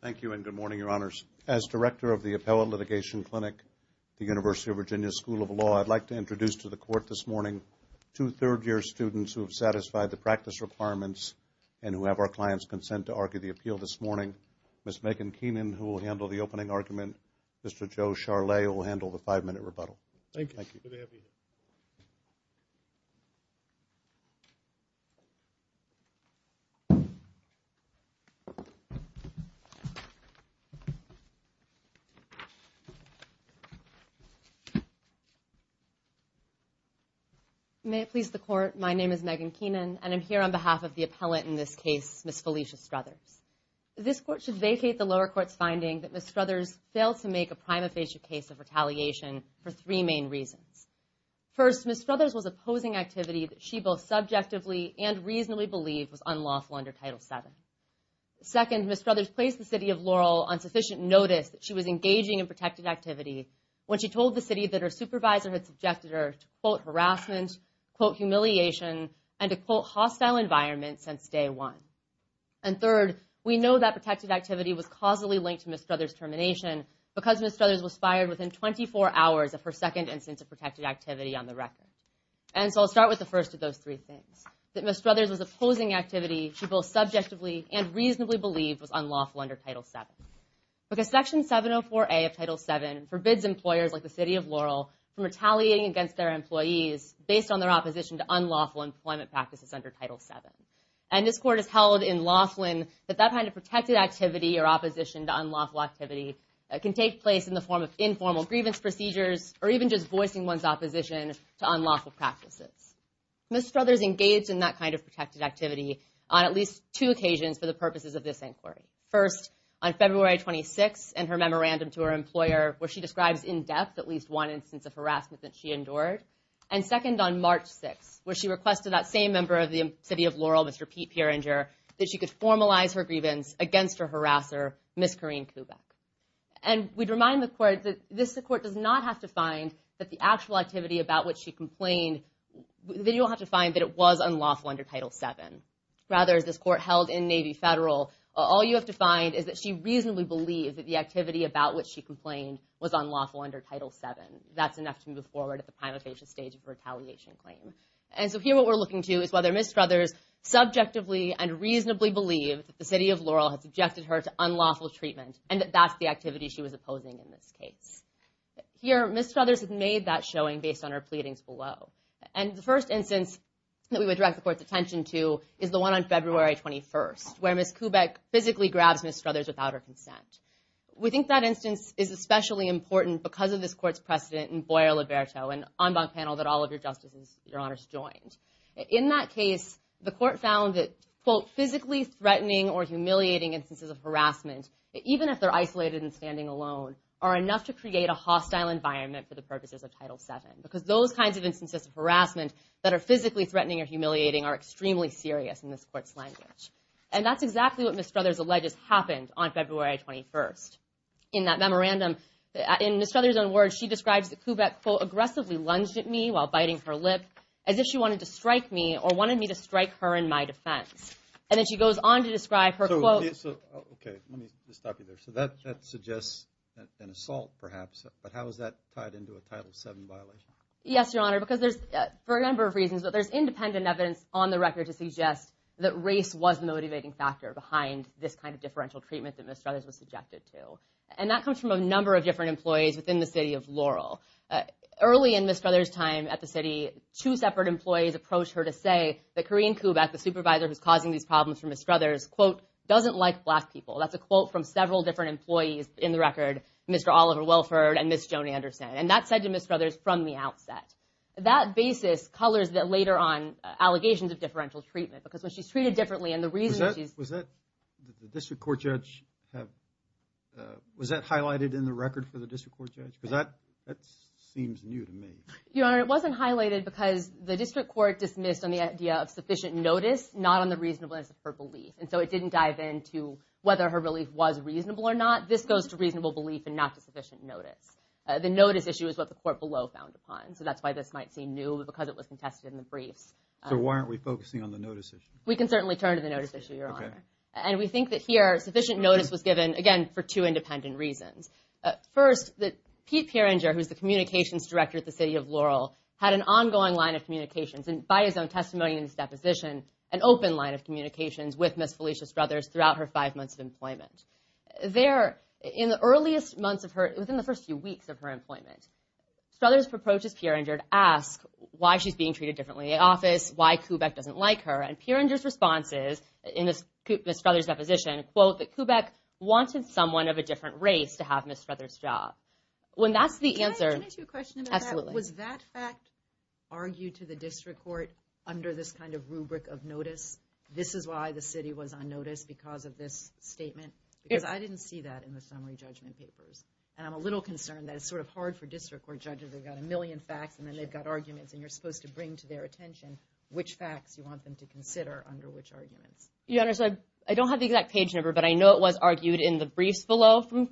Thank you and good morning, Your Honors. As Director of the Appellate Litigation Clinic at the University of Virginia School of Law, I'd like to introduce to the Court this morning two third-year students who have satisfied the practice requirements and who have our clients' consent to argue the appeal this morning. Ms. Megan Keenan, who will handle the opening argument. Mr. Joe Charlay will handle the five-minute rebuttal. Thank you. Good to have you here. May it please the Court, my name is Megan Keenan and I'm here on behalf of the appellate in this case, Ms. Felicia Strothers. This Court should vacate the lower court's finding that Ms. Strothers failed to make a prima facie case of retaliation for three main reasons. First, Ms. Strothers was opposing activity that she both subjectively and reasonably believed was unlawful under Title VII. Second, Ms. Strothers placed the City of Laurel on sufficient notice that she was engaging in protected activity when she told the City that her supervisor had subjected her to, quote, harassment, quote, humiliation, and a, quote, hostile environment since day one. And third, we know that protected activity was causally linked to Ms. Strothers' termination because Ms. Strothers was fired within 24 hours of her second instance of protected activity on the record. And so I'll start with the first of those three things, that Ms. Strothers was opposing activity she both subjectively and reasonably believed was unlawful under Title VII. Because Section 704A of Title VII forbids employers like the City of Laurel from retaliating against their employees based on their opposition to unlawful employment practices under Title VII. And this Court has held in Laughlin that that kind of protected activity or opposition to unlawful activity can take place in the form of informal grievance procedures or even just voicing one's opposition to unlawful practices. Ms. Strothers engaged in that kind of protected activity on at least two occasions for the purposes of this inquiry. First, on February 26 and her memorandum to her employer where she describes in depth at least one instance of harassment that she endured. And second, on March 6, where she requested that same member of the City of Laurel, Mr. Pete Peeringer, that she could formalize her grievance against her harasser, Ms. Corrine Kuback. And we'd remind the Court that this Court does not have to find that the actual activity about which she complained, that you'll have to find that it was unlawful under Title VII. Rather, as this Court held in Navy Federal, all you have to find is that she reasonably believed that the activity about which she complained was unlawful under Title VII. That's enough to move forward at the primary stage of retaliation claim. And so here what we're looking to is whether Ms. Strothers subjectively and reasonably believed that the City of Laurel had subjected her to unlawful treatment and that that's the activity she was opposing in this case. Here, Ms. Strothers had made that showing based on her pleadings below. And the first instance that we would direct the Court's attention to is the one on February 21, where Ms. Kuback physically grabs Ms. Strothers without her consent. We think that instance is especially important because of this Court's precedent in Boyer-Liberto, an en banc panel that all of your Justices, your Honors, joined. In that case, the Court found that, quote, physically threatening or humiliating instances of harassment, even if they're isolated and standing alone, are enough to create a hostile environment for the purposes of Title VII. Because those kinds of instances of harassment that are physically threatening or humiliating are extremely serious in this Court's language. And that's exactly what Ms. Strothers alleges happened on February 21. In that memorandum, in Ms. Strothers' own words, she describes that Kuback, quote, aggressively lunged at me while biting her lip as if she wanted to strike me or wanted me to strike her in my defense. And then she goes on to describe her, quote... So, okay, let me just stop you there. So that suggests an assault, perhaps, but how is that tied into a Title VII violation? Yes, Your Honor, because there's, for a number of reasons, but there's independent evidence on the record to suggest that race was the motivating factor behind this kind of differential treatment that Ms. Strothers was subjected to. And that comes from a number of different employees within the city of Laurel. Early in Ms. Strothers' time at the city, two separate employees approached her to say that Korean Kuback, the supervisor who's causing these problems for Ms. Strothers, quote, doesn't like black people. That's a quote from several different employees in the record, Mr. Oliver Welford and Ms. And that's said to Ms. Strothers from the outset. That basis colors that later on, allegations of differential treatment, because when she's treated differently and the reason she's... Was that... The district court judge have... Was that highlighted in the record for the district court judge? That seems new to me. Your Honor, it wasn't highlighted because the district court dismissed on the idea of sufficient notice, not on the reasonableness of her belief. And so it didn't dive into whether her relief was reasonable or not. This goes to reasonable belief and not to sufficient notice. The notice issue is what the court below found upon. So that's why this might seem new, because it was contested in the briefs. So why aren't we focusing on the notice issue? We can certainly turn to the notice issue, Your Honor. And we think that here, sufficient notice was given, again, for two independent reasons. First, that Pete Pieringer, who's the communications director at the city of Laurel, had an ongoing line of communications and by his own testimony in his deposition, an open line of communications with Ms. Felicia Strothers throughout her five months of employment. There, in the earliest months of her... Strothers approaches Pieringer to ask why she's being treated differently in the office, why Kubek doesn't like her. And Pieringer's response is, in Ms. Strothers' deposition, quote, that Kubek wanted someone of a different race to have Ms. Strothers' job. When that's the answer... Can I ask you a question about that? Absolutely. Was that fact argued to the district court under this kind of rubric of notice? This is why the city was on notice because of this statement? Because I didn't see that in the summary judgment papers. And I'm a little concerned that it's sort of hard for district court judges. They've got a million facts and then they've got arguments and you're supposed to bring to their attention which facts you want them to consider under which arguments. Your Honor, so I don't have the exact page number, but I know it was argued in the briefs below from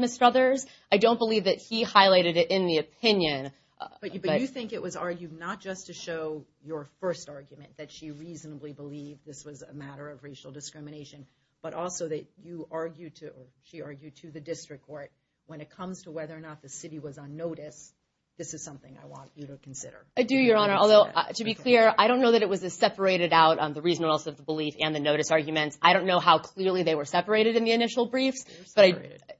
Ms. Strothers. I don't believe that he highlighted it in the opinion. But you think it was argued not just to show your first argument, that she reasonably believed this was a matter of racial discrimination, but also that you argued to... When it comes to whether or not the city was on notice, this is something I want you to consider. I do, Your Honor. Although, to be clear, I don't know that it was separated out on the reason or else of the belief and the notice arguments. I don't know how clearly they were separated in the initial briefs, but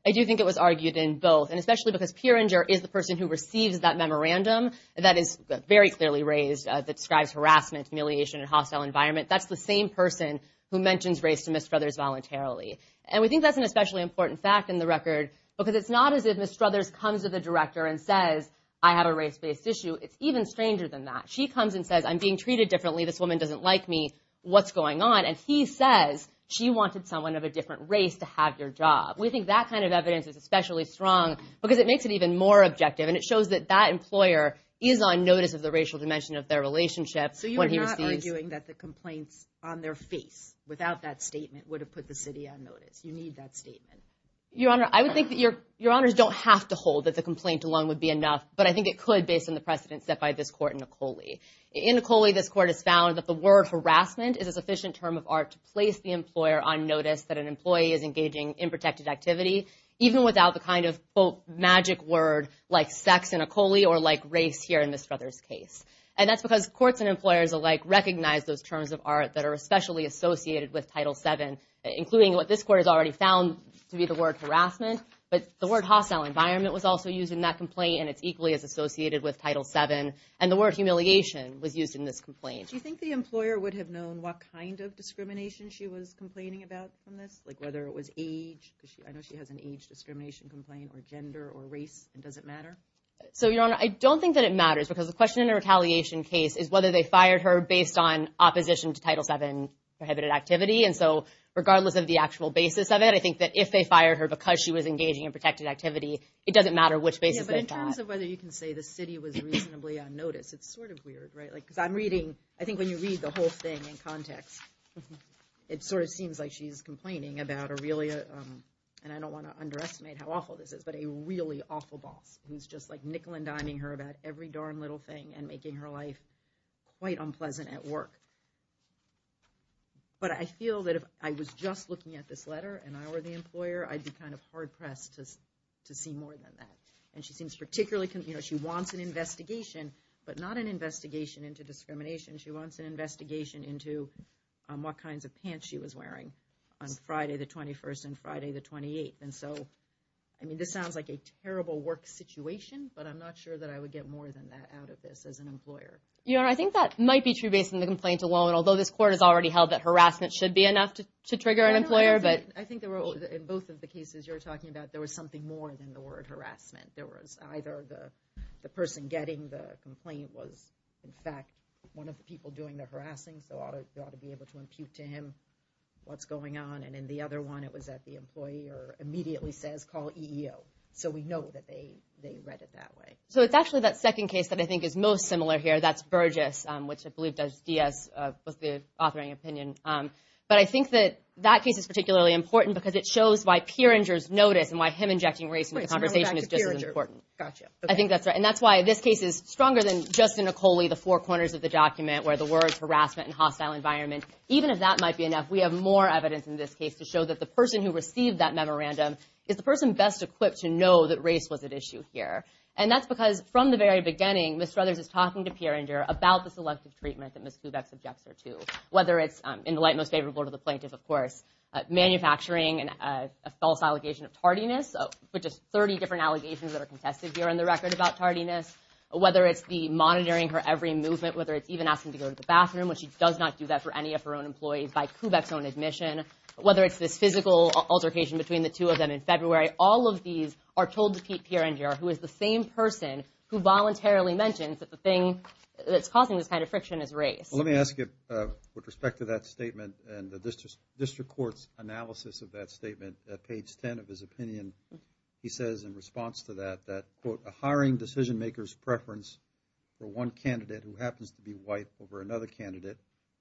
I do think it was argued in both. And especially because Peeringer is the person who receives that memorandum that is very clearly raised that describes harassment, humiliation, and hostile environment. That's the same person who mentions race to Ms. Strothers voluntarily. And we think that's an especially important fact in the record because it's not as if Ms. Strothers comes to the director and says, I have a race-based issue. It's even stranger than that. She comes and says, I'm being treated differently. This woman doesn't like me. What's going on? And he says, she wanted someone of a different race to have your job. We think that kind of evidence is especially strong because it makes it even more objective and it shows that that employer is on notice of the racial dimension of their relationship when he receives... So you're not arguing that the complaints on their face without that statement would put the city on notice. You need that statement. Your Honor, I would think that Your Honors don't have to hold that the complaint alone would be enough, but I think it could based on the precedents set by this court in Ecole. In Ecole, this court has found that the word harassment is a sufficient term of art to place the employer on notice that an employee is engaging in protected activity, even without the kind of, quote, magic word like sex in Ecole or like race here in Ms. Strothers' case. And that's because courts and employers alike recognize those terms of art that are especially associated with Title VII, including what this court has already found to be the word harassment. But the word hostile environment was also used in that complaint and it's equally as associated with Title VII. And the word humiliation was used in this complaint. Do you think the employer would have known what kind of discrimination she was complaining about from this? Like whether it was age, because I know she has an age discrimination complaint, or gender or race. Does it matter? So, Your Honor, I don't think that it matters because the question in a retaliation case is whether they fired her based on opposition to Title VII prohibited activity. And so, regardless of the actual basis of it, I think that if they fired her because she was engaging in protected activity, it doesn't matter which basis they thought. Yeah, but in terms of whether you can say the city was reasonably on notice, it's sort of weird, right? Because I'm reading, I think when you read the whole thing in context, it sort of seems like she's complaining about a really, and I don't want to underestimate how awful this is, but a really awful boss who's just like nickel and diming her about every darn little thing and making her life quite unpleasant at work. But I feel that if I was just looking at this letter and I were the employer, I'd be kind of hard-pressed to see more than that. And she seems particularly, you know, she wants an investigation, but not an investigation into discrimination. She wants an investigation into what kinds of pants she was wearing on Friday the 21st and Friday the 28th. And so, I mean, this sounds like a terrible work situation, but I'm not sure that I would get more than that out of this as an employer. You know, I think that might be true based on the complaint alone, although this court has already held that harassment should be enough to trigger an employer, but... I think there were, in both of the cases you're talking about, there was something more than the word harassment. There was either the person getting the complaint was, in fact, one of the people doing the harassing, so you ought to be able to impute to him what's going on. And in the other one, it was that the employer immediately says, call EEO. So we know that they read it that way. So it's actually that second case that I think is most similar here. That's Burgess, which I believe that Diaz was the authoring opinion. But I think that that case is particularly important because it shows why Peeringer's notice and why him injecting race into the conversation is just as important. Gotcha. I think that's right. And that's why this case is stronger than Justin Acoli, the four corners of the document where the words harassment and hostile environment, even if that might be enough, we have more evidence in this case to show that the person who received that memorandum is the person best equipped to know that race was at issue here. And that's because from the very beginning, Ms. Struthers is talking to Peeringer about the selective treatment that Ms. Kubek subjects her to, whether it's in the light most favorable to the plaintiff, of course, manufacturing a false allegation of tardiness, which is 30 different allegations that are contested here in the record about tardiness, whether it's the monitoring her every movement, whether it's even asking to go to the bathroom, which she does not do that for any of her own employees by Kubek's own admission, whether it's this physical altercation between the two of them in February. All of these are told to Pete Peeringer, who is the same person who voluntarily mentions that the thing that's causing this kind of friction is race. Let me ask you, with respect to that statement and the district court's analysis of that statement at page 10 of his opinion, he says in response to that, that, quote, a hiring decision maker's preference for one candidate who happens to be white over another candidate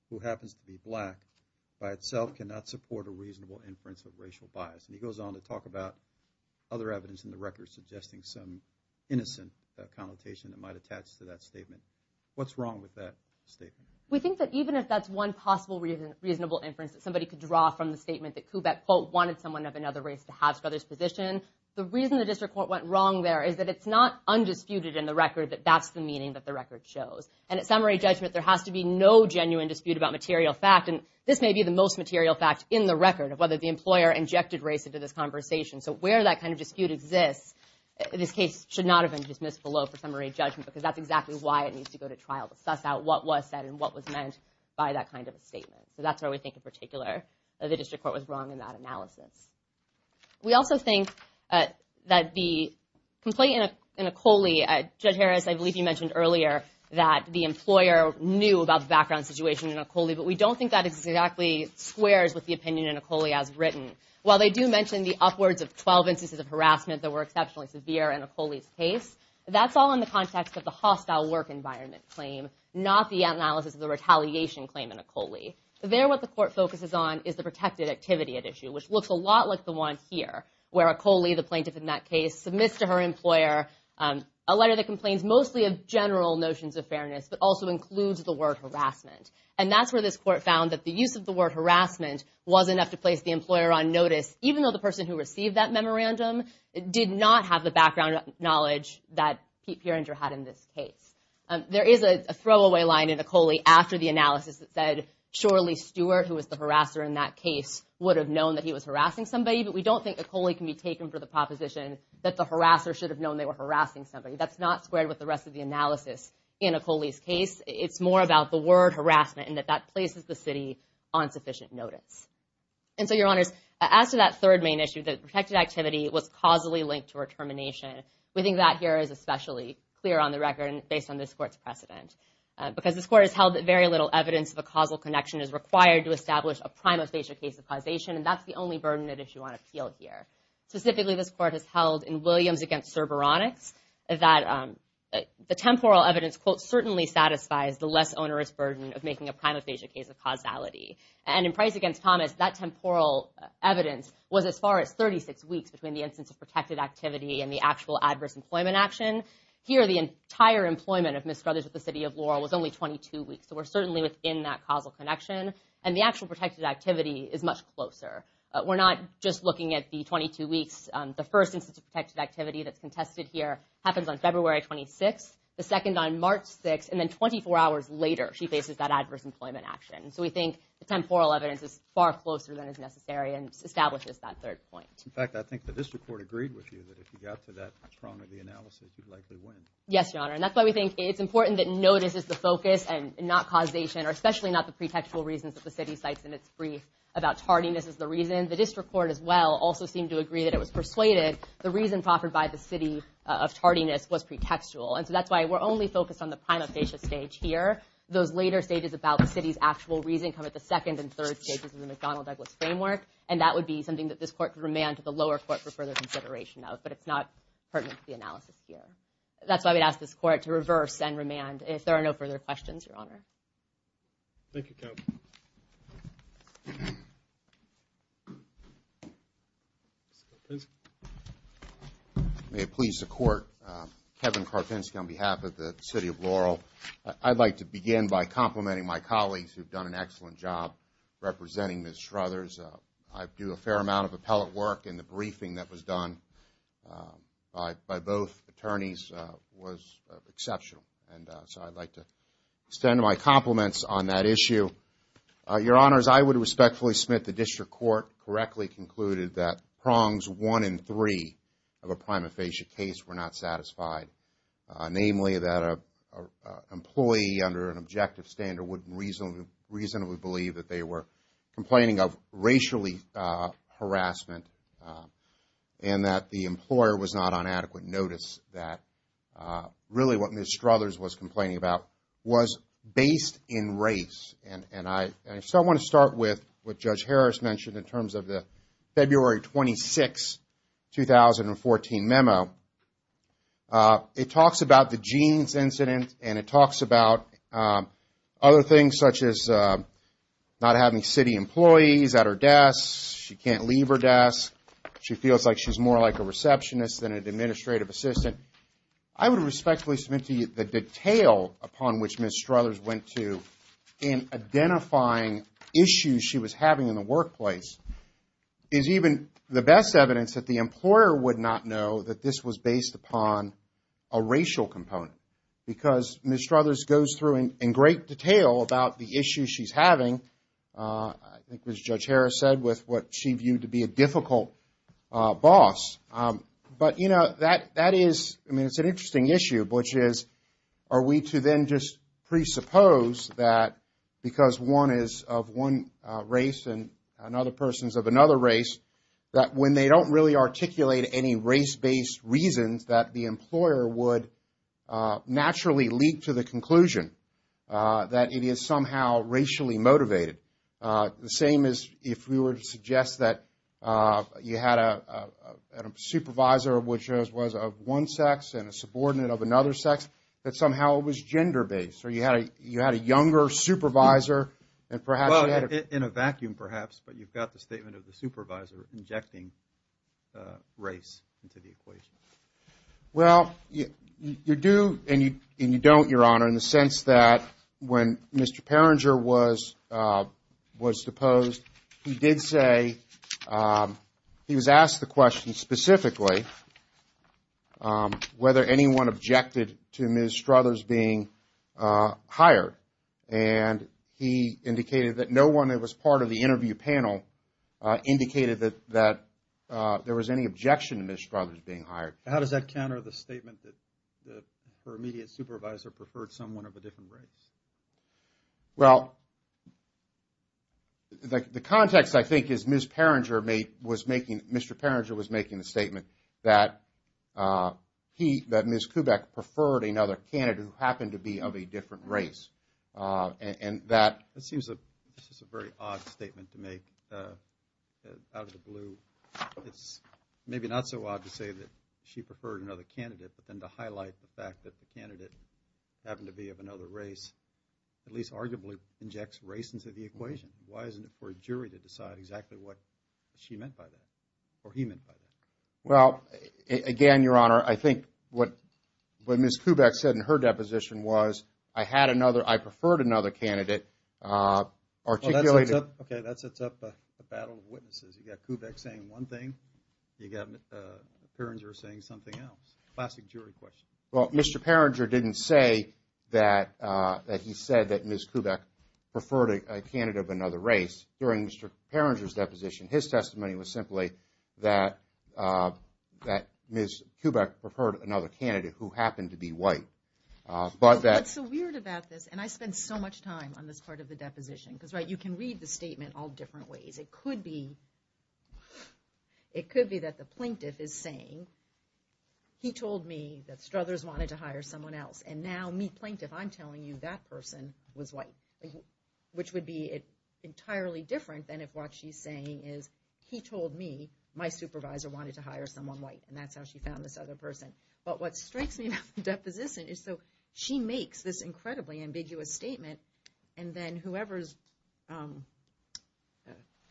who happens to be black by itself cannot support a reasonable inference of racial bias. And he goes on to talk about other evidence in the record suggesting some innocent connotation that might attach to that statement. What's wrong with that statement? We think that even if that's one possible reasonable inference that somebody could draw from the statement that Kubek, quote, wanted someone of another race to have Struthers' position, the reason the district court went wrong there is that it's not undisputed in the record that that's the meaning that the record shows. And at summary judgment, there has to be no genuine dispute about material fact, and this may be the most material fact in the record of whether the employer injected race into this conversation. So where that kind of dispute exists, this case should not have been dismissed below for summary judgment, because that's exactly why it needs to go to trial, to suss out what was said and what was meant by that kind of a statement. So that's where we think in particular that the district court was wrong in that analysis. We also think that the complaint in Ecole, Judge Harris, I believe you mentioned earlier that the employer knew about the background situation in Ecole, but we don't think that exactly squares with the opinion in Ecole as written. While they do mention the upwards of 12 instances of harassment that were exceptionally severe in Ecole's case, that's all in the context of the hostile work environment claim, not the analysis of the retaliation claim in Ecole. There what the court focuses on is the protected activity at issue, which looks a lot like the one here, where Ecole, the plaintiff in that case, submits to her employer a letter that complains mostly of general notions of fairness, but also includes the word harassment. And that's where this court found that the use of the word harassment was enough to place the employer on notice, even though the person who received that memorandum did not have the background knowledge that Pete Perenger had in this case. There is a throwaway line in Ecole after the analysis that said, surely Stewart, who was the harasser in that case, would have known that he was harassing somebody, but we don't think Ecole can be taken for the proposition that the harasser should have known they were harassing somebody. That's not squared with the rest of the analysis in Ecole's case. It's more about the word harassment, and that that places the city on sufficient notice. And so, your honors, as to that third main issue, that protected activity was causally linked to her termination, we think that here is especially clear on the record, and based on this court's precedent. Because this court has held that very little evidence of a causal connection is required to establish a prima facie case of causation, and that's the only burden at issue on appeal here. Specifically, this court has held in Williams against Cerberonics that the temporal evidence, quote, certainly satisfies the less onerous burden of making a prima facie case of causality. And in Price against Thomas, that temporal evidence was as far as 36 weeks between the instance of protected activity and the actual adverse employment action. Here, the entire employment of Ms. Scrothers with the city of Laurel was only 22 weeks, so we're certainly within that causal connection. And the actual protected activity is much closer. We're not just looking at the 22 weeks. The first instance of protected activity that's contested here happens on February 26th. The second on March 6th, and then 24 hours later, she faces that adverse employment action. And so we think the temporal evidence is far closer than is necessary and establishes that third point. In fact, I think the district court agreed with you that if you got to that trunk of the analysis, you'd likely win. Yes, Your Honor. And that's why we think it's important that notice is the focus and not causation, or especially not the pretextual reasons that the city cites in its brief about tardiness as the reason. The district court, as well, also seemed to agree that it was persuaded the reason proffered by the city of tardiness was pretextual. And so that's why we're only focused on the prima facie stage here. Those later stages about the city's actual reason come at the second and third stages of the McDonnell-Douglas framework. And that would be something that this court could remand to the lower court for further consideration of. But it's not pertinent to the analysis here. That's why we'd ask this court to reverse and remand if there are no further questions, Your Honor. Thank you, Captain. Mr. Karpinski? May it please the court, Kevin Karpinski on behalf of the city of Laurel. I'd like to begin by complimenting my colleagues who've done an excellent job representing Ms. Shruthers. I do a fair amount of appellate work, and the briefing that was done by both attorneys was exceptional. And so I'd like to extend my compliments on that issue. Your Honors, I would respectfully submit the district court correctly concluded that prongs one in three of a prima facie case were not satisfied. Namely, that an employee under an objective standard would reasonably believe that they were complaining of racially harassment and that the employer was not on adequate notice that really what Ms. Shruthers was complaining about was based in race. And so I want to start with what Judge Harris mentioned in terms of the February 26, 2014 memo. It talks about the jeans incident, and it talks about other things such as not having city employees at her desk, she can't leave her desk, she feels like she's more like a I would respectfully submit to you the detail upon which Ms. Shruthers went to in identifying issues she was having in the workplace is even the best evidence that the employer would not know that this was based upon a racial component because Ms. Shruthers goes through in great detail about the issues she's having, I think as Judge Harris said, with what she viewed to be a difficult boss. But, you know, that is, I mean, it's an interesting issue, which is are we to then just presuppose that because one is of one race and another person is of another race, that when they don't really articulate any race-based reasons that the employer would naturally lead to the conclusion that it is somehow racially motivated. The same as if we were to suggest that you had a supervisor which was of one sex and a subordinate of another sex, that somehow it was gender-based, or you had a younger supervisor and perhaps you had a Well, in a vacuum perhaps, but you've got the statement of the supervisor injecting race into the equation. Well, you do and you don't, Your Honor, in the sense that when Mr. Perringer was deposed, he did say, he was asked the question specifically whether anyone objected to Ms. Shruthers being hired, and he indicated that no one that was part of the interview panel indicated that there was any objection to Ms. Shruthers being hired. How does that counter the statement that her immediate supervisor preferred someone of a different race? Well, the context, I think, is Ms. Perringer was making, Mr. Perringer was making the statement that he, that Ms. Kubek preferred another candidate who happened to be of a different race, and that That seems a very odd statement to make, out of the blue. It's maybe not so odd to say that she preferred another candidate, but then to highlight the fact that the candidate happened to be of another race, at least arguably injects race into the equation. Why isn't it for a jury to decide exactly what she meant by that, or he meant by that? Well, again, Your Honor, I think what Ms. Kubek said in her deposition was, I had another, I preferred another candidate, articulated Okay, that sets up a battle of witnesses. You got Kubek saying one thing, you got Perringer saying something else. Classic jury question. Well, Mr. Perringer didn't say that he said that Ms. Kubek preferred a candidate of another race. During Mr. Perringer's deposition, his testimony was simply that Ms. Kubek preferred another candidate who happened to be white. What's so weird about this, and I spent so much time on this part of the deposition, because you can read the statement all different ways. It could be that the plaintiff is saying, he told me that Struthers wanted to hire someone else, and now me, plaintiff, I'm telling you that person was white. Which would be entirely different than if what she's saying is, he told me my supervisor wanted to hire someone white, and that's how she found this other person. But what strikes me about the deposition is that she makes this incredibly ambiguous statement, and then whoever's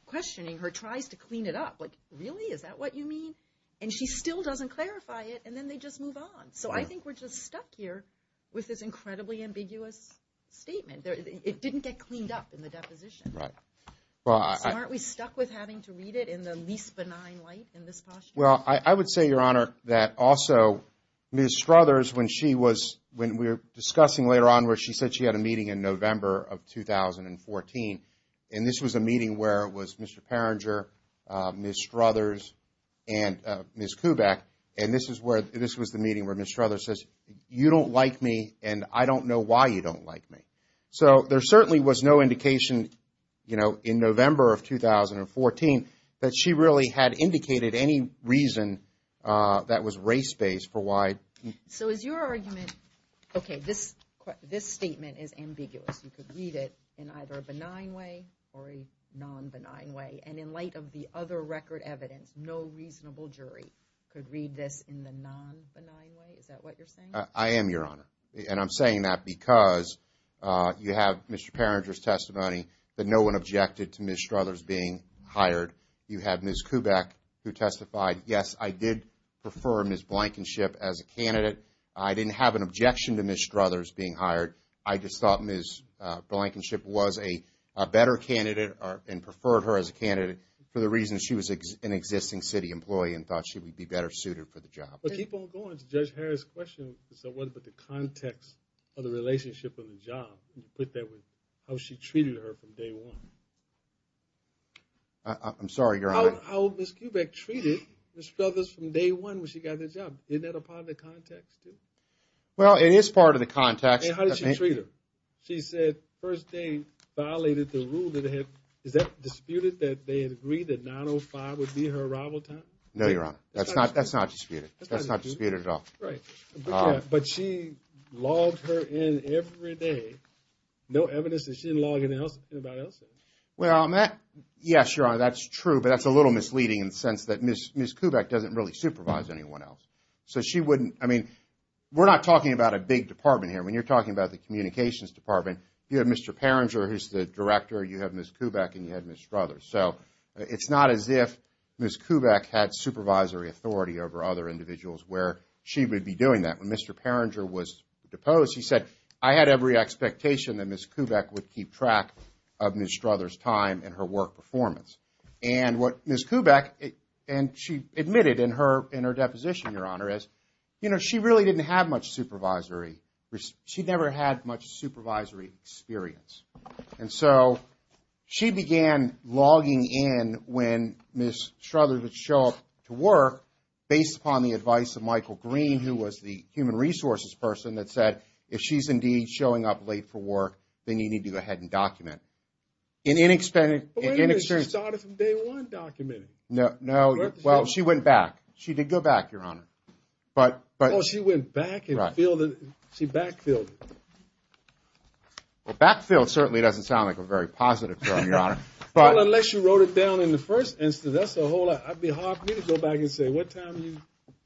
questioning her tries to clean it up. Like, really? Is that what you mean? And she still doesn't clarify it, and then they just move on. So I think we're just stuck here with this incredibly ambiguous statement. It didn't get cleaned up in the deposition. So aren't we stuck with having to read it in the least benign light in this posture? Well, I would say, Your Honor, that also Ms. Struthers, when we were discussing later on, where she said she had a meeting in November of 2014, and this was a meeting where it was Mr. Perringer, Ms. Struthers, and Ms. Kuback, and this was the meeting where Ms. Struthers says, you don't like me, and I don't know why you don't like me. So there certainly was no indication in November of 2014 that she really had indicated any reason that was race-based for why. So is your argument, okay, this statement is ambiguous. You could read it in either a benign way or a non-benign way. And in light of the other record evidence, no reasonable jury could read this in the non-benign way? Is that what you're saying? I am, Your Honor. And I'm saying that because you have Mr. Perringer's testimony that no one objected to Ms. Struthers being hired. You have Ms. Kuback who testified, yes, I did prefer Ms. Blankenship as a candidate. I didn't have an objection to Ms. Struthers being hired. I just thought Ms. Blankenship was a better candidate and preferred her as a candidate for the reason she was an existing city employee and thought she would be better suited for the job. But keep on going to Judge Harris' question as to what about the context of the relationship of the job and put that with how she treated her from day one. I'm sorry, Your Honor. How Ms. Kuback treated Ms. Struthers from day one when she got the job. Isn't that a part of the context too? Well, it is part of the context. And how did she treat her? She said first day violated the rule that had, is that disputed that they had agreed that 9.05 would be her arrival time? No, Your Honor. That's not disputed. That's not disputed at all. Right. But she logged her in every day. No evidence that she didn't log in anybody else's. Well, yes, Your Honor, that's true. But that's a little misleading in the sense that Ms. Kuback doesn't really supervise anyone else. So she wouldn't, I mean, we're not talking about a big department here. When you're talking about the communications department, you have Mr. Perringer, who's the director, you have Ms. Kuback, and you have Ms. Struthers. So it's not as if Ms. Kuback had supervisory authority over other individuals where she would be doing that. When Mr. Perringer was deposed, he said, I had every expectation that Ms. Kuback would keep track of Ms. Struthers' time and her work performance. And what Ms. Kuback, and she admitted in her deposition, Your Honor, is, you know, she really didn't have much supervisory, she never had much supervisory experience. And so she began logging in when Ms. Struthers would show up to work, based upon the advice of Michael Green, who was the human resources person, that said, if she's indeed showing up late for work, then you need to go ahead and document. In inexperienced... But wait a minute, she started from day one documenting. No, well, she went back. She did go back, Your Honor. Well, she went back and filled, she backfilled. Well, backfill certainly doesn't sound like a very positive term, Your Honor. Well, unless you wrote it down in the first instance, that's a whole lot. It would be hard for me to go back and say, what time did you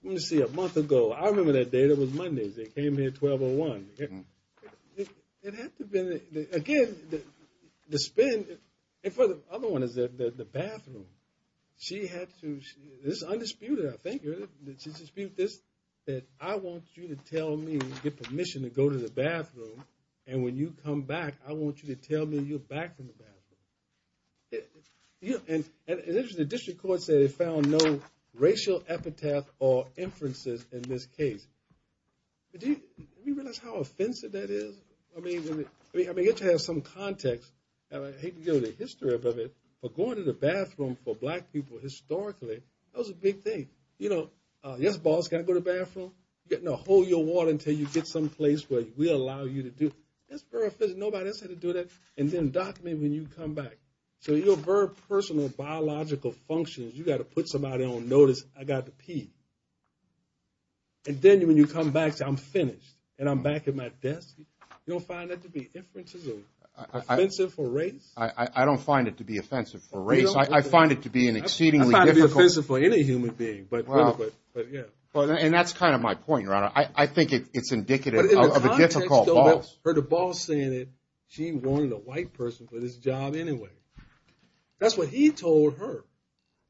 want to see a month ago? I remember that day, that was Monday, they came here at 12.01. It had to have been, again, the spend, and for the other one, the bathroom. She had to, this is undisputed, I think. She had to dispute this, that I want you to tell me you get permission to go to the bathroom, and when you come back, I want you to tell me you're back from the bathroom. And the district court said it found no racial epitaph or inferences in this case. Do you realize how offensive that is? I mean, it has some context. I hate to go to the history of it, but going to the bathroom for black people historically, that was a big thing. You know, yes, boss, can I go to the bathroom? No, hold your water until you get someplace where we allow you to do it. That's very offensive. Nobody said to do that. And then document when you come back. So your very personal biological functions, you got to put somebody on notice, I got to pee. And then when you come back, say I'm finished, and I'm back at my desk, you don't find that to be inferences or offensive for race? I don't find it to be offensive for race. I find it to be an exceedingly difficult. It's not offensive for any human being, but, yeah. And that's kind of my point, Your Honor. I think it's indicative of a difficult boss. But in the context of it, I heard the boss saying it, she wanted a white person for this job anyway. That's what he told her.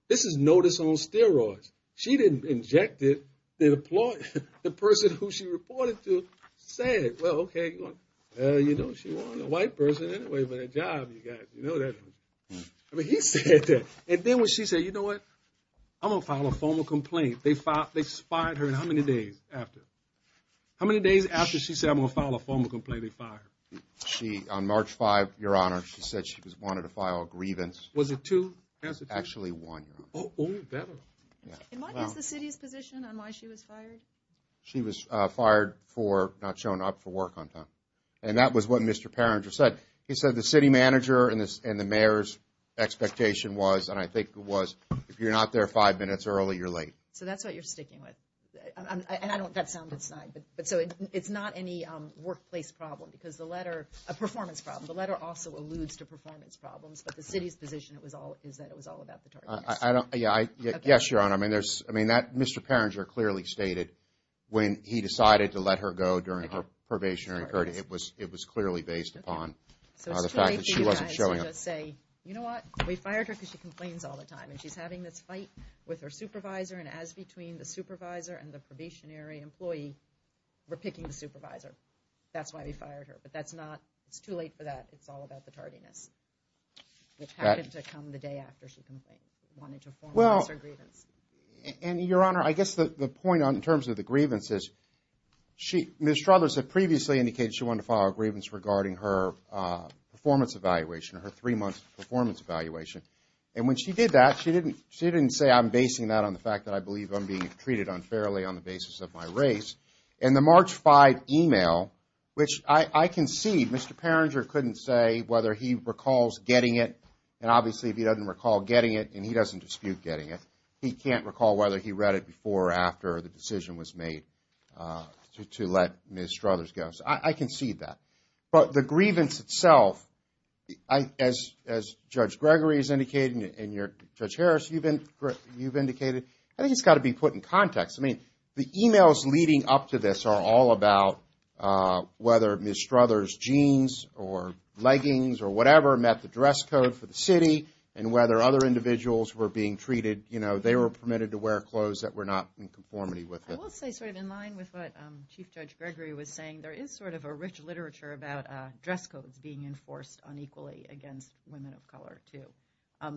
This is notice on steroids. She didn't inject it. The person who she reported to said, well, okay, you know, she wanted a white person anyway, but a job, you got to know that. I mean, he said that. And then when she said, you know what, I'm going to file a formal complaint, they fired her in how many days after? How many days after she said, I'm going to file a formal complaint, they fired her? On March 5th, Your Honor, she said she wanted to file a grievance. Was it two? Actually one. Oh, better. And what is the city's position on why she was fired? She was fired for not showing up for work on time. And that was what Mr. Perringer said. He said the city manager and the mayor's expectation was, and I think it was, if you're not there five minutes early, you're late. So that's what you're sticking with. And I don't, that sounded snide. But so it's not any workplace problem because the letter, a performance problem, the letter also alludes to performance problems, but the city's position is that it was all about the targets. Yes, Your Honor, I mean, Mr. Perringer clearly stated when he decided to let her go during her probationary period, it was clearly based upon the fact that she wasn't showing up. So it's too late for you guys to just say, you know what, we fired her because she complains all the time, and she's having this fight with her supervisor, and as between the supervisor and the probationary employee, we're picking the supervisor. That's why we fired her. But that's not, it's too late for that. It's all about the tardiness, which happened to come the day after she complained, wanted to formalize her grievance. And, Your Honor, I guess the point in terms of the grievance is she, Ms. Struthers, had previously indicated she wanted to file a grievance regarding her performance evaluation, her three-month performance evaluation. And when she did that, she didn't say I'm basing that on the fact that I believe I'm being treated unfairly on the basis of my race. In the March 5 email, which I can see Mr. Perringer couldn't say whether he recalls getting it, and obviously if he doesn't recall getting it and he doesn't dispute getting it, he can't recall whether he read it before or after the decision was made to let Ms. Struthers go. So I can see that. But the grievance itself, as Judge Gregory has indicated and Judge Harris, you've indicated, I think it's got to be put in context. I mean, the emails leading up to this are all about whether Ms. Struthers' jeans or leggings or whatever met the dress code for the city and whether other individuals were being treated, you know, they were permitted to wear clothes that were not in conformity with it. I will say sort of in line with what Chief Judge Gregory was saying, there is sort of a rich literature about dress codes being enforced unequally against women of color too.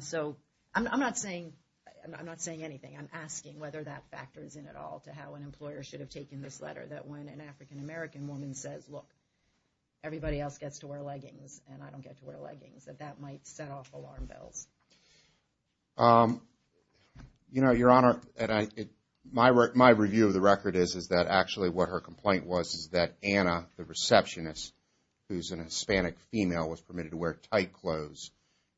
So I'm not saying anything. I'm asking whether that factors in at all to how an employer should have taken this letter, that when an African-American woman says, look, everybody else gets to wear leggings and I don't get to wear leggings, that that might set off alarm bells. You know, Your Honor, my review of the record is that actually what her complaint was is that Anna, the receptionist, who's a Hispanic female, was permitted to wear tight clothes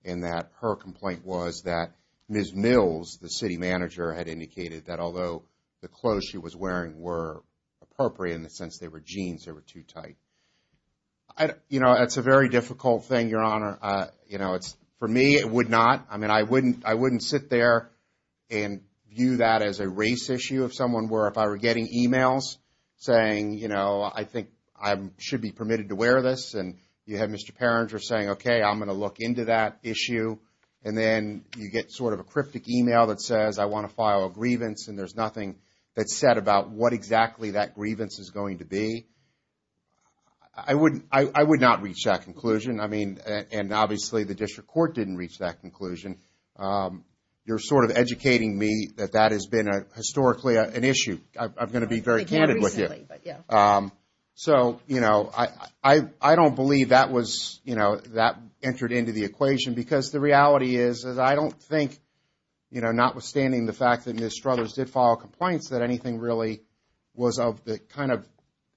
and that her complaint was that Ms. Mills, the city manager, had indicated that although the clothes she was wearing were appropriate in the sense they were jeans, they were too tight. You know, it's a very difficult thing, Your Honor. You know, for me, it would not. I mean, I wouldn't sit there and view that as a race issue if someone were, if I were getting emails saying, you know, I think I should be permitted to wear this and you have Mr. Perringer saying, okay, I'm going to look into that issue and then you get sort of a cryptic email that says, I want to file a grievance and there's nothing that's said about what exactly that grievance is going to be. I would not reach that conclusion. I mean, and obviously the district court didn't reach that conclusion. You're sort of educating me that that has been historically an issue. I'm going to be very candid with you. So, you know, I don't believe that was, you know, that entered into the equation because the reality is that I don't think, you know, notwithstanding the fact that Ms. Struthers did file complaints, that anything really was of the kind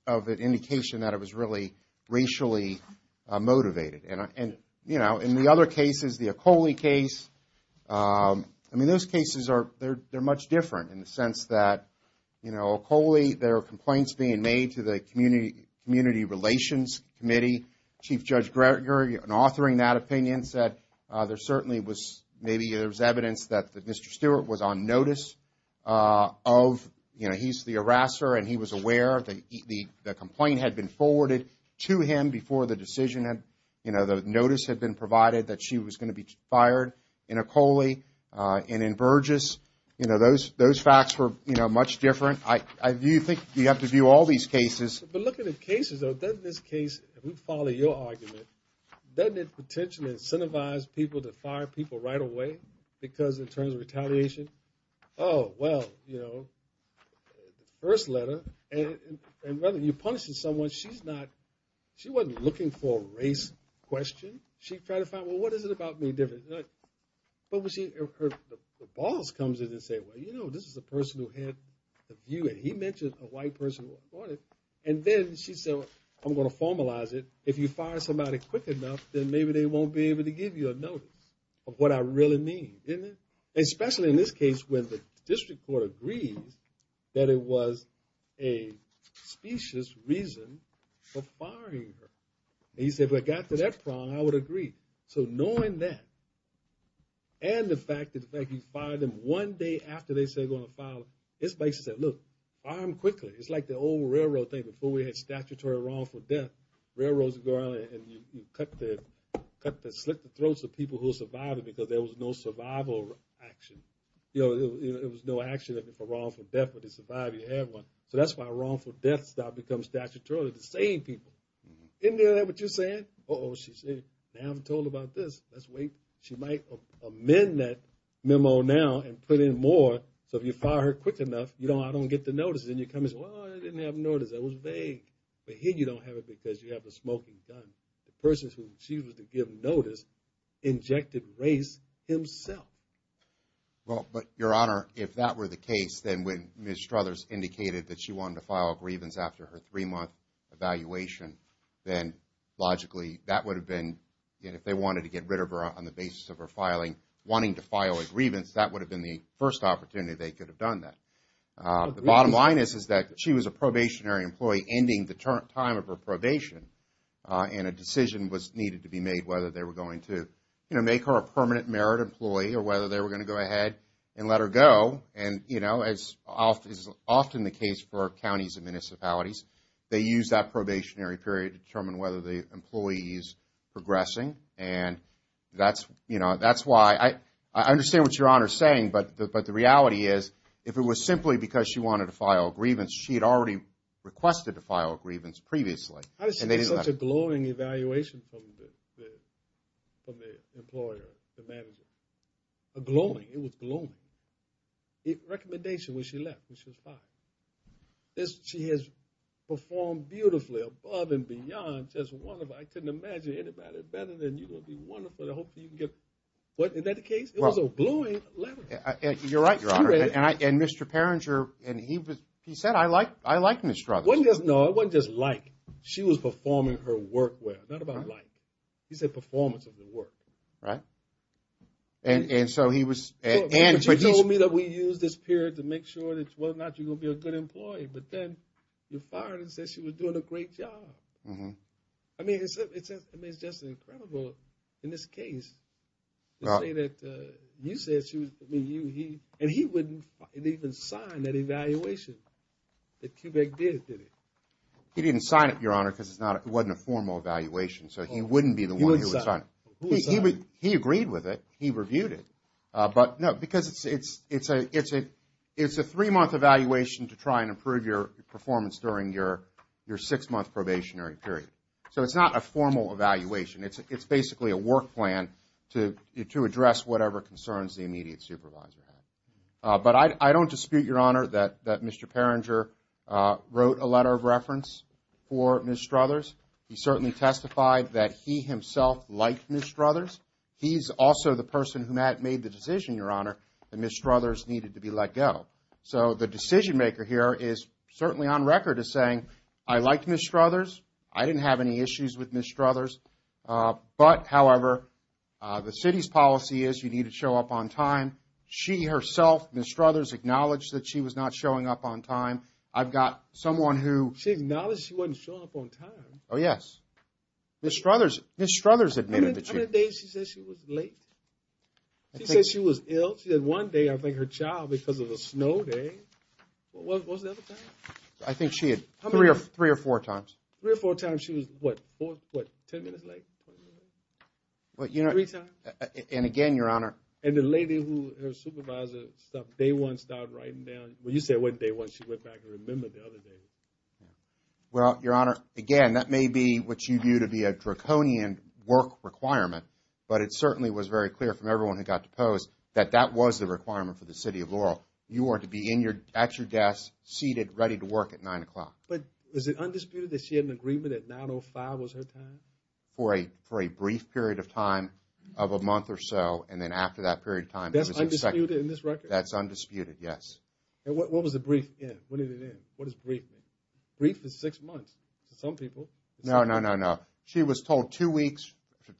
of indication that it was really racially motivated. And, you know, in the other cases, the Ocoli case, I mean, those cases are, they're much different in the sense that, you know, Ocoli, there are complaints being made to the Community Relations Committee. Chief Judge Gregory, in authoring that opinion, said there certainly was, maybe there was evidence that Mr. Stewart was on notice of, you know, he's the harasser and he was aware that the complaint had been forwarded to him before the decision had, you know, the notice had been provided that she was going to be fired in Ocoli and in Burgess. You know, those facts were, you know, much different. I do think you have to view all these cases. But looking at cases, though, doesn't this case, if we follow your argument, doesn't it potentially incentivize people to fire people right away? Because in terms of retaliation, oh, well, you know, first letter, and whether you're punishing someone, she's not, she wasn't looking for a race question. She tried to find, well, what is it about me different? But when she, her boss comes in and say, well, you know, this is a person who had a view, and he mentioned a white person who reported it. And then she said, well, I'm going to formalize it. If you fire somebody quick enough, then maybe they won't be able to give you a notice of what I really mean, isn't it? Especially in this case when the district court agrees that it was a specious reason for firing her. And he said, if it got to that prong, I would agree. So knowing that and the fact that he fired them one day after they said they were going to file, this makes you say, look, fire them quickly. It's like the old railroad thing. Before we had statutory wrongful death, railroads would go around and you cut the slit in the throats of people who survived it because there was no survival action. You know, there was no action for wrongful death, but to survive you had one. So that's why wrongful deaths now become statutorily the same people. Isn't that what you're saying? Uh-oh, she's saying, now I'm told about this, let's wait. She might amend that memo now and put in more so if you fire her quick enough, I don't get the notice and you come and say, well, I didn't have a notice. That was vague. But here you don't have it because you have a smoking gun. The person she was to give notice injected race himself. Well, but, Your Honor, if that were the case, then when Ms. Struthers indicated that she wanted to file a grievance after her three-month evaluation, then logically that would have been, if they wanted to get rid of her on the basis of her filing, wanting to file a grievance, that would have been the first opportunity they could have done that. The bottom line is that she was a probationary employee ending the time of her probation and a decision was needed to be made whether they were going to make her a permanent merit employee or whether they were going to go ahead and let her go. And, you know, as is often the case for counties and municipalities, they use that probationary period to determine whether the employee is progressing. And that's, you know, that's why I understand what Your Honor is saying, but the reality is if it was simply because she wanted to file a grievance, she had already requested to file a grievance previously. How did she get such a glowing evaluation from the employer, the manager? Glowing, it was glowing. The recommendation was she left and she was fired. She has performed beautifully above and beyond. Just wonderful. I couldn't imagine anybody better than you. You're going to be wonderful. I hope you can get. Was that the case? It was a glowing letter. You're right, Your Honor. And Mr. Perringer, he said, I like Ms. Struthers. No, it wasn't just like. She was performing her work well. Not about like. He said performance of the work. Right. And so he was. He told me that we use this period to make sure that whether or not you're going to be a good employee. But then you fired her and said she was doing a great job. I mean, it's just incredible in this case to say that you said she was. And he wouldn't even sign that evaluation that CUBIC did, did he? He didn't sign it, Your Honor, because it wasn't a formal evaluation. So he wouldn't be the one. He agreed with it. He reviewed it. But, no, because it's a three-month evaluation to try and improve your performance during your six-month probationary period. So it's not a formal evaluation. It's basically a work plan to address whatever concerns the immediate supervisor had. But I don't dispute, Your Honor, that Mr. Perringer wrote a letter of reference for Ms. Struthers. He certainly testified that he himself liked Ms. Struthers. He's also the person who made the decision, Your Honor, that Ms. Struthers needed to be let go. So the decision-maker here is certainly on record as saying, I liked Ms. Struthers. I didn't have any issues with Ms. Struthers. But, however, the city's policy is you need to show up on time. She herself, Ms. Struthers, acknowledged that she was not showing up on time. I've got someone who. She acknowledged she wasn't showing up on time. Oh, yes. Ms. Struthers admitted that she. How many days did she say she was late? She said she was ill. She said one day, I think, her child, because of a snow day. What was the other time? I think she had three or four times. Three or four times she was, what, 10 minutes late? Three times. And, again, Your Honor. And the lady who, her supervisor, day one started writing down. Well, you said it wasn't day one. She went back and remembered the other day. Well, Your Honor, again, that may be what you view to be a draconian work requirement. But it certainly was very clear from everyone who got deposed that that was the requirement for the city of Laurel. You are to be at your desk, seated, ready to work at 9 o'clock. But is it undisputed that she had an agreement that 9.05 was her time? For a brief period of time of a month or so. And then after that period of time. That's undisputed in this record? That's undisputed, yes. And what was the brief? When did it end? What does brief mean? Brief is six months to some people. No, no, no, no. She was told two weeks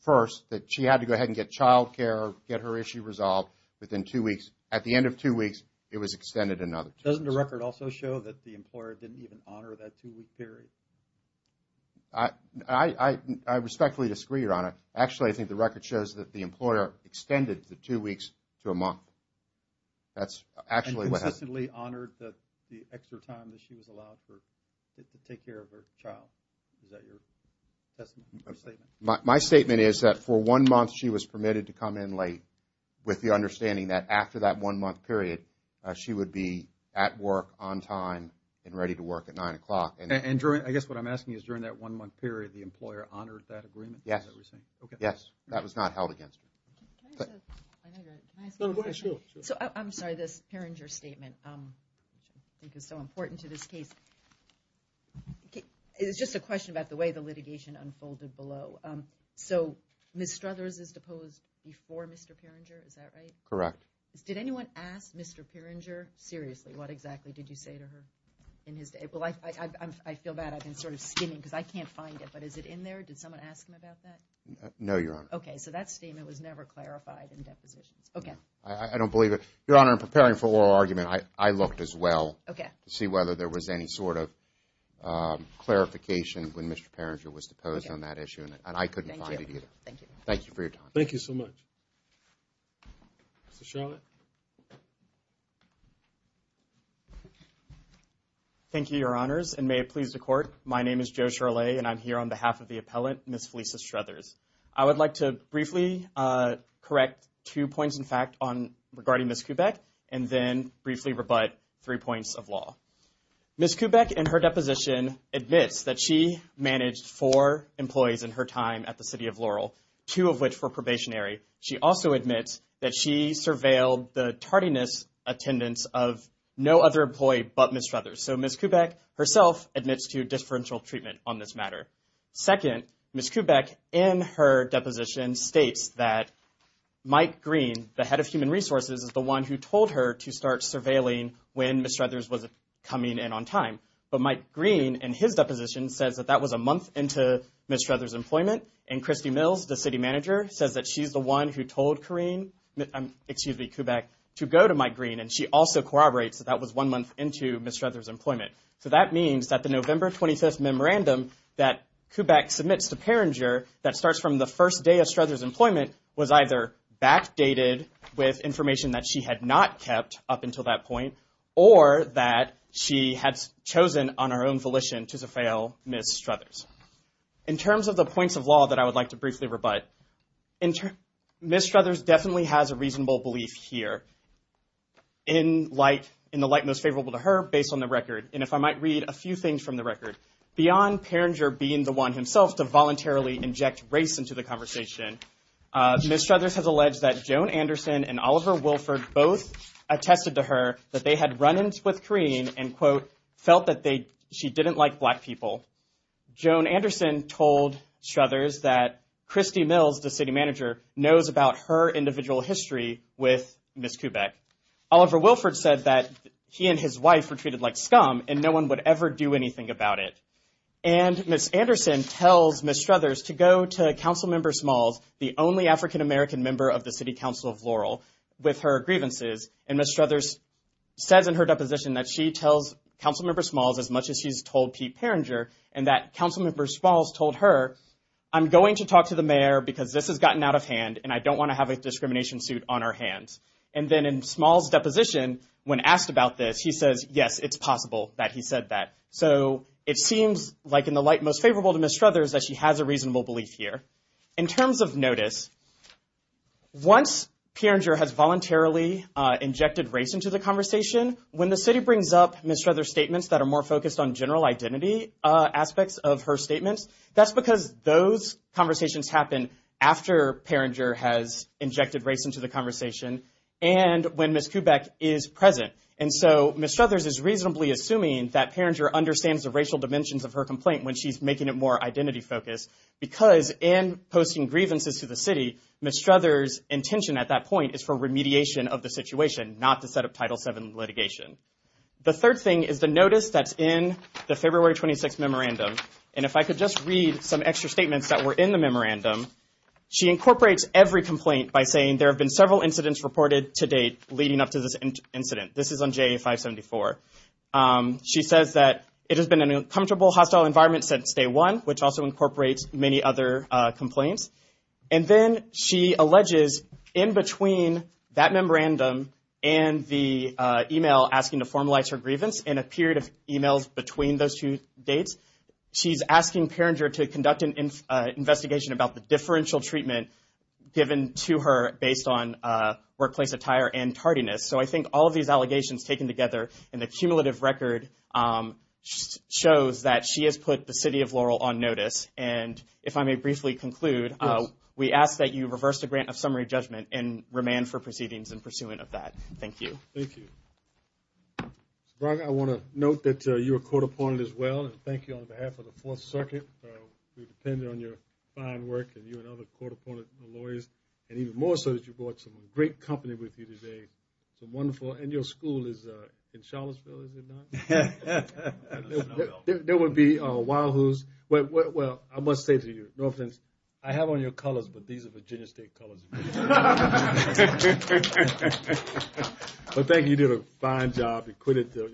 first that she had to go ahead and get childcare, get her issue resolved within two weeks. At the end of two weeks, it was extended another two weeks. Doesn't the record also show that the employer didn't even honor that two-week period? I respectfully disagree, Your Honor. Actually, I think the record shows that the employer extended the two weeks to a month. That's actually what happened. The employer respectfully honored the extra time that she was allowed to take care of her child. Is that your statement? My statement is that for one month, she was permitted to come in late with the understanding that after that one-month period, she would be at work, on time, and ready to work at 9 o'clock. And I guess what I'm asking is during that one-month period, the employer honored that agreement? Yes. That was not held against her. Can I ask you a question? No, go ahead. Sure. I'm sorry, this Piringer statement I think is so important to this case. It's just a question about the way the litigation unfolded below. So Ms. Struthers is deposed before Mr. Piringer, is that right? Correct. Did anyone ask Mr. Piringer seriously what exactly did you say to her in his day? Well, I feel bad. I've been sort of skimming because I can't find it. But is it in there? Did someone ask him about that? No, Your Honor. Okay, so that statement was never clarified in depositions. Okay. I don't believe it. Your Honor, I'm preparing for oral argument. I looked as well to see whether there was any sort of clarification when Mr. Piringer was deposed on that issue, and I couldn't find it either. Thank you. Thank you for your time. Thank you so much. Mr. Shurley. Thank you, Your Honors, and may it please the Court. My name is Joe Shurley, and I'm here on behalf of the appellant, Ms. Felicia Struthers. I would like to briefly correct two points in fact regarding Ms. Kubek and then briefly rebut three points of law. Ms. Kubek, in her deposition, admits that she managed four employees in her time at the City of Laurel, two of which were probationary. She also admits that she surveilled the tardiness attendance of no other employee but Ms. Struthers. So Ms. Kubek herself admits to differential treatment on this matter. Second, Ms. Kubek, in her deposition, states that Mike Green, the head of human resources, is the one who told her to start surveilling when Ms. Struthers was coming in on time. But Mike Green, in his deposition, says that that was a month into Ms. Struthers' employment, and Christy Mills, the city manager, says that she's the one who told Kareem, excuse me, Kubek, to go to Mike Green, and she also corroborates that that was one month into Ms. Struthers' employment. So that means that the November 25th memorandum that Kubek submits to Peringer that starts from the first day of Struthers' employment was either backdated with information that she had not kept up until that point or that she had chosen on her own volition to surveil Ms. Struthers. In terms of the points of law that I would like to briefly rebut, Ms. Struthers definitely has a reasonable belief here in the light most favorable to her based on the record, and if I might read a few things from the record. Beyond Peringer being the one himself to voluntarily inject race into the conversation, Ms. Struthers has alleged that Joan Anderson and Oliver Wilford both attested to her that they had run-ins with Kareem and, quote, felt that she didn't like black people. Joan Anderson told Struthers that Christy Mills, the city manager, knows about her individual history with Ms. Kubek. Oliver Wilford said that he and his wife were treated like scum and no one would ever do anything about it. And Ms. Anderson tells Ms. Struthers to go to Councilmember Smalls, the only African-American member of the City Council of Laurel, with her grievances, and Ms. Struthers says in her deposition that she tells Councilmember Smalls as much as she's told Pete Peringer and that Councilmember Smalls told her, I'm going to talk to the mayor because this has gotten out of hand and I don't want to have a discrimination suit on our hands. And then in Smalls' deposition, when asked about this, he says, yes, it's possible that he said that. So it seems like in the light most favorable to Ms. Struthers that she has a reasonable belief here. In terms of notice, once Peringer has voluntarily injected race into the conversation, when the city brings up Ms. Struthers' statements that are more focused on general identity aspects of her statements, that's because those conversations happen after Peringer has injected race into the conversation and when Ms. Kubek is present. And so Ms. Struthers is reasonably assuming that Peringer understands the racial dimensions of her complaint when she's making it more identity-focused because in posting grievances to the city, Ms. Struthers' intention at that point is for remediation of the situation, not to set up Title VII litigation. The third thing is the notice that's in the February 26th memorandum. And if I could just read some extra statements that were in the memorandum. She incorporates every complaint by saying there have been several incidents reported to date leading up to this incident. This is on JA574. She says that it has been an uncomfortable, hostile environment since day one, which also incorporates many other complaints. And then she alleges in between that memorandum and the email asking to formalize her grievance in a period of emails between those two dates, she's asking Peringer to conduct an investigation about the differential treatment given to her based on workplace attire and tardiness. So I think all of these allegations taken together in the cumulative record shows that she has put the city of Laurel on notice. And if I may briefly conclude, we ask that you reverse the grant of summary judgment and remand for proceedings in pursuant of that. Thank you. Thank you. Mr. Braga, I want to note that you were court-appointed as well, and thank you on behalf of the Fourth Circuit. We depend on your fine work and you and other court-appointed lawyers, and even more so that you brought some great company with you today, some wonderful, and your school is in Charlottesville, is it not? There would be Wahoos. Well, I must say to you, Northlands, I have on your colors, but these are Virginia State colors. Well, thank you. You did a fine job. You quitted your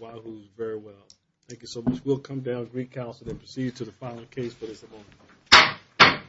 Wahoos very well. Thank you so much. We'll come down to recalcitrant and proceed to the final case for this appointment.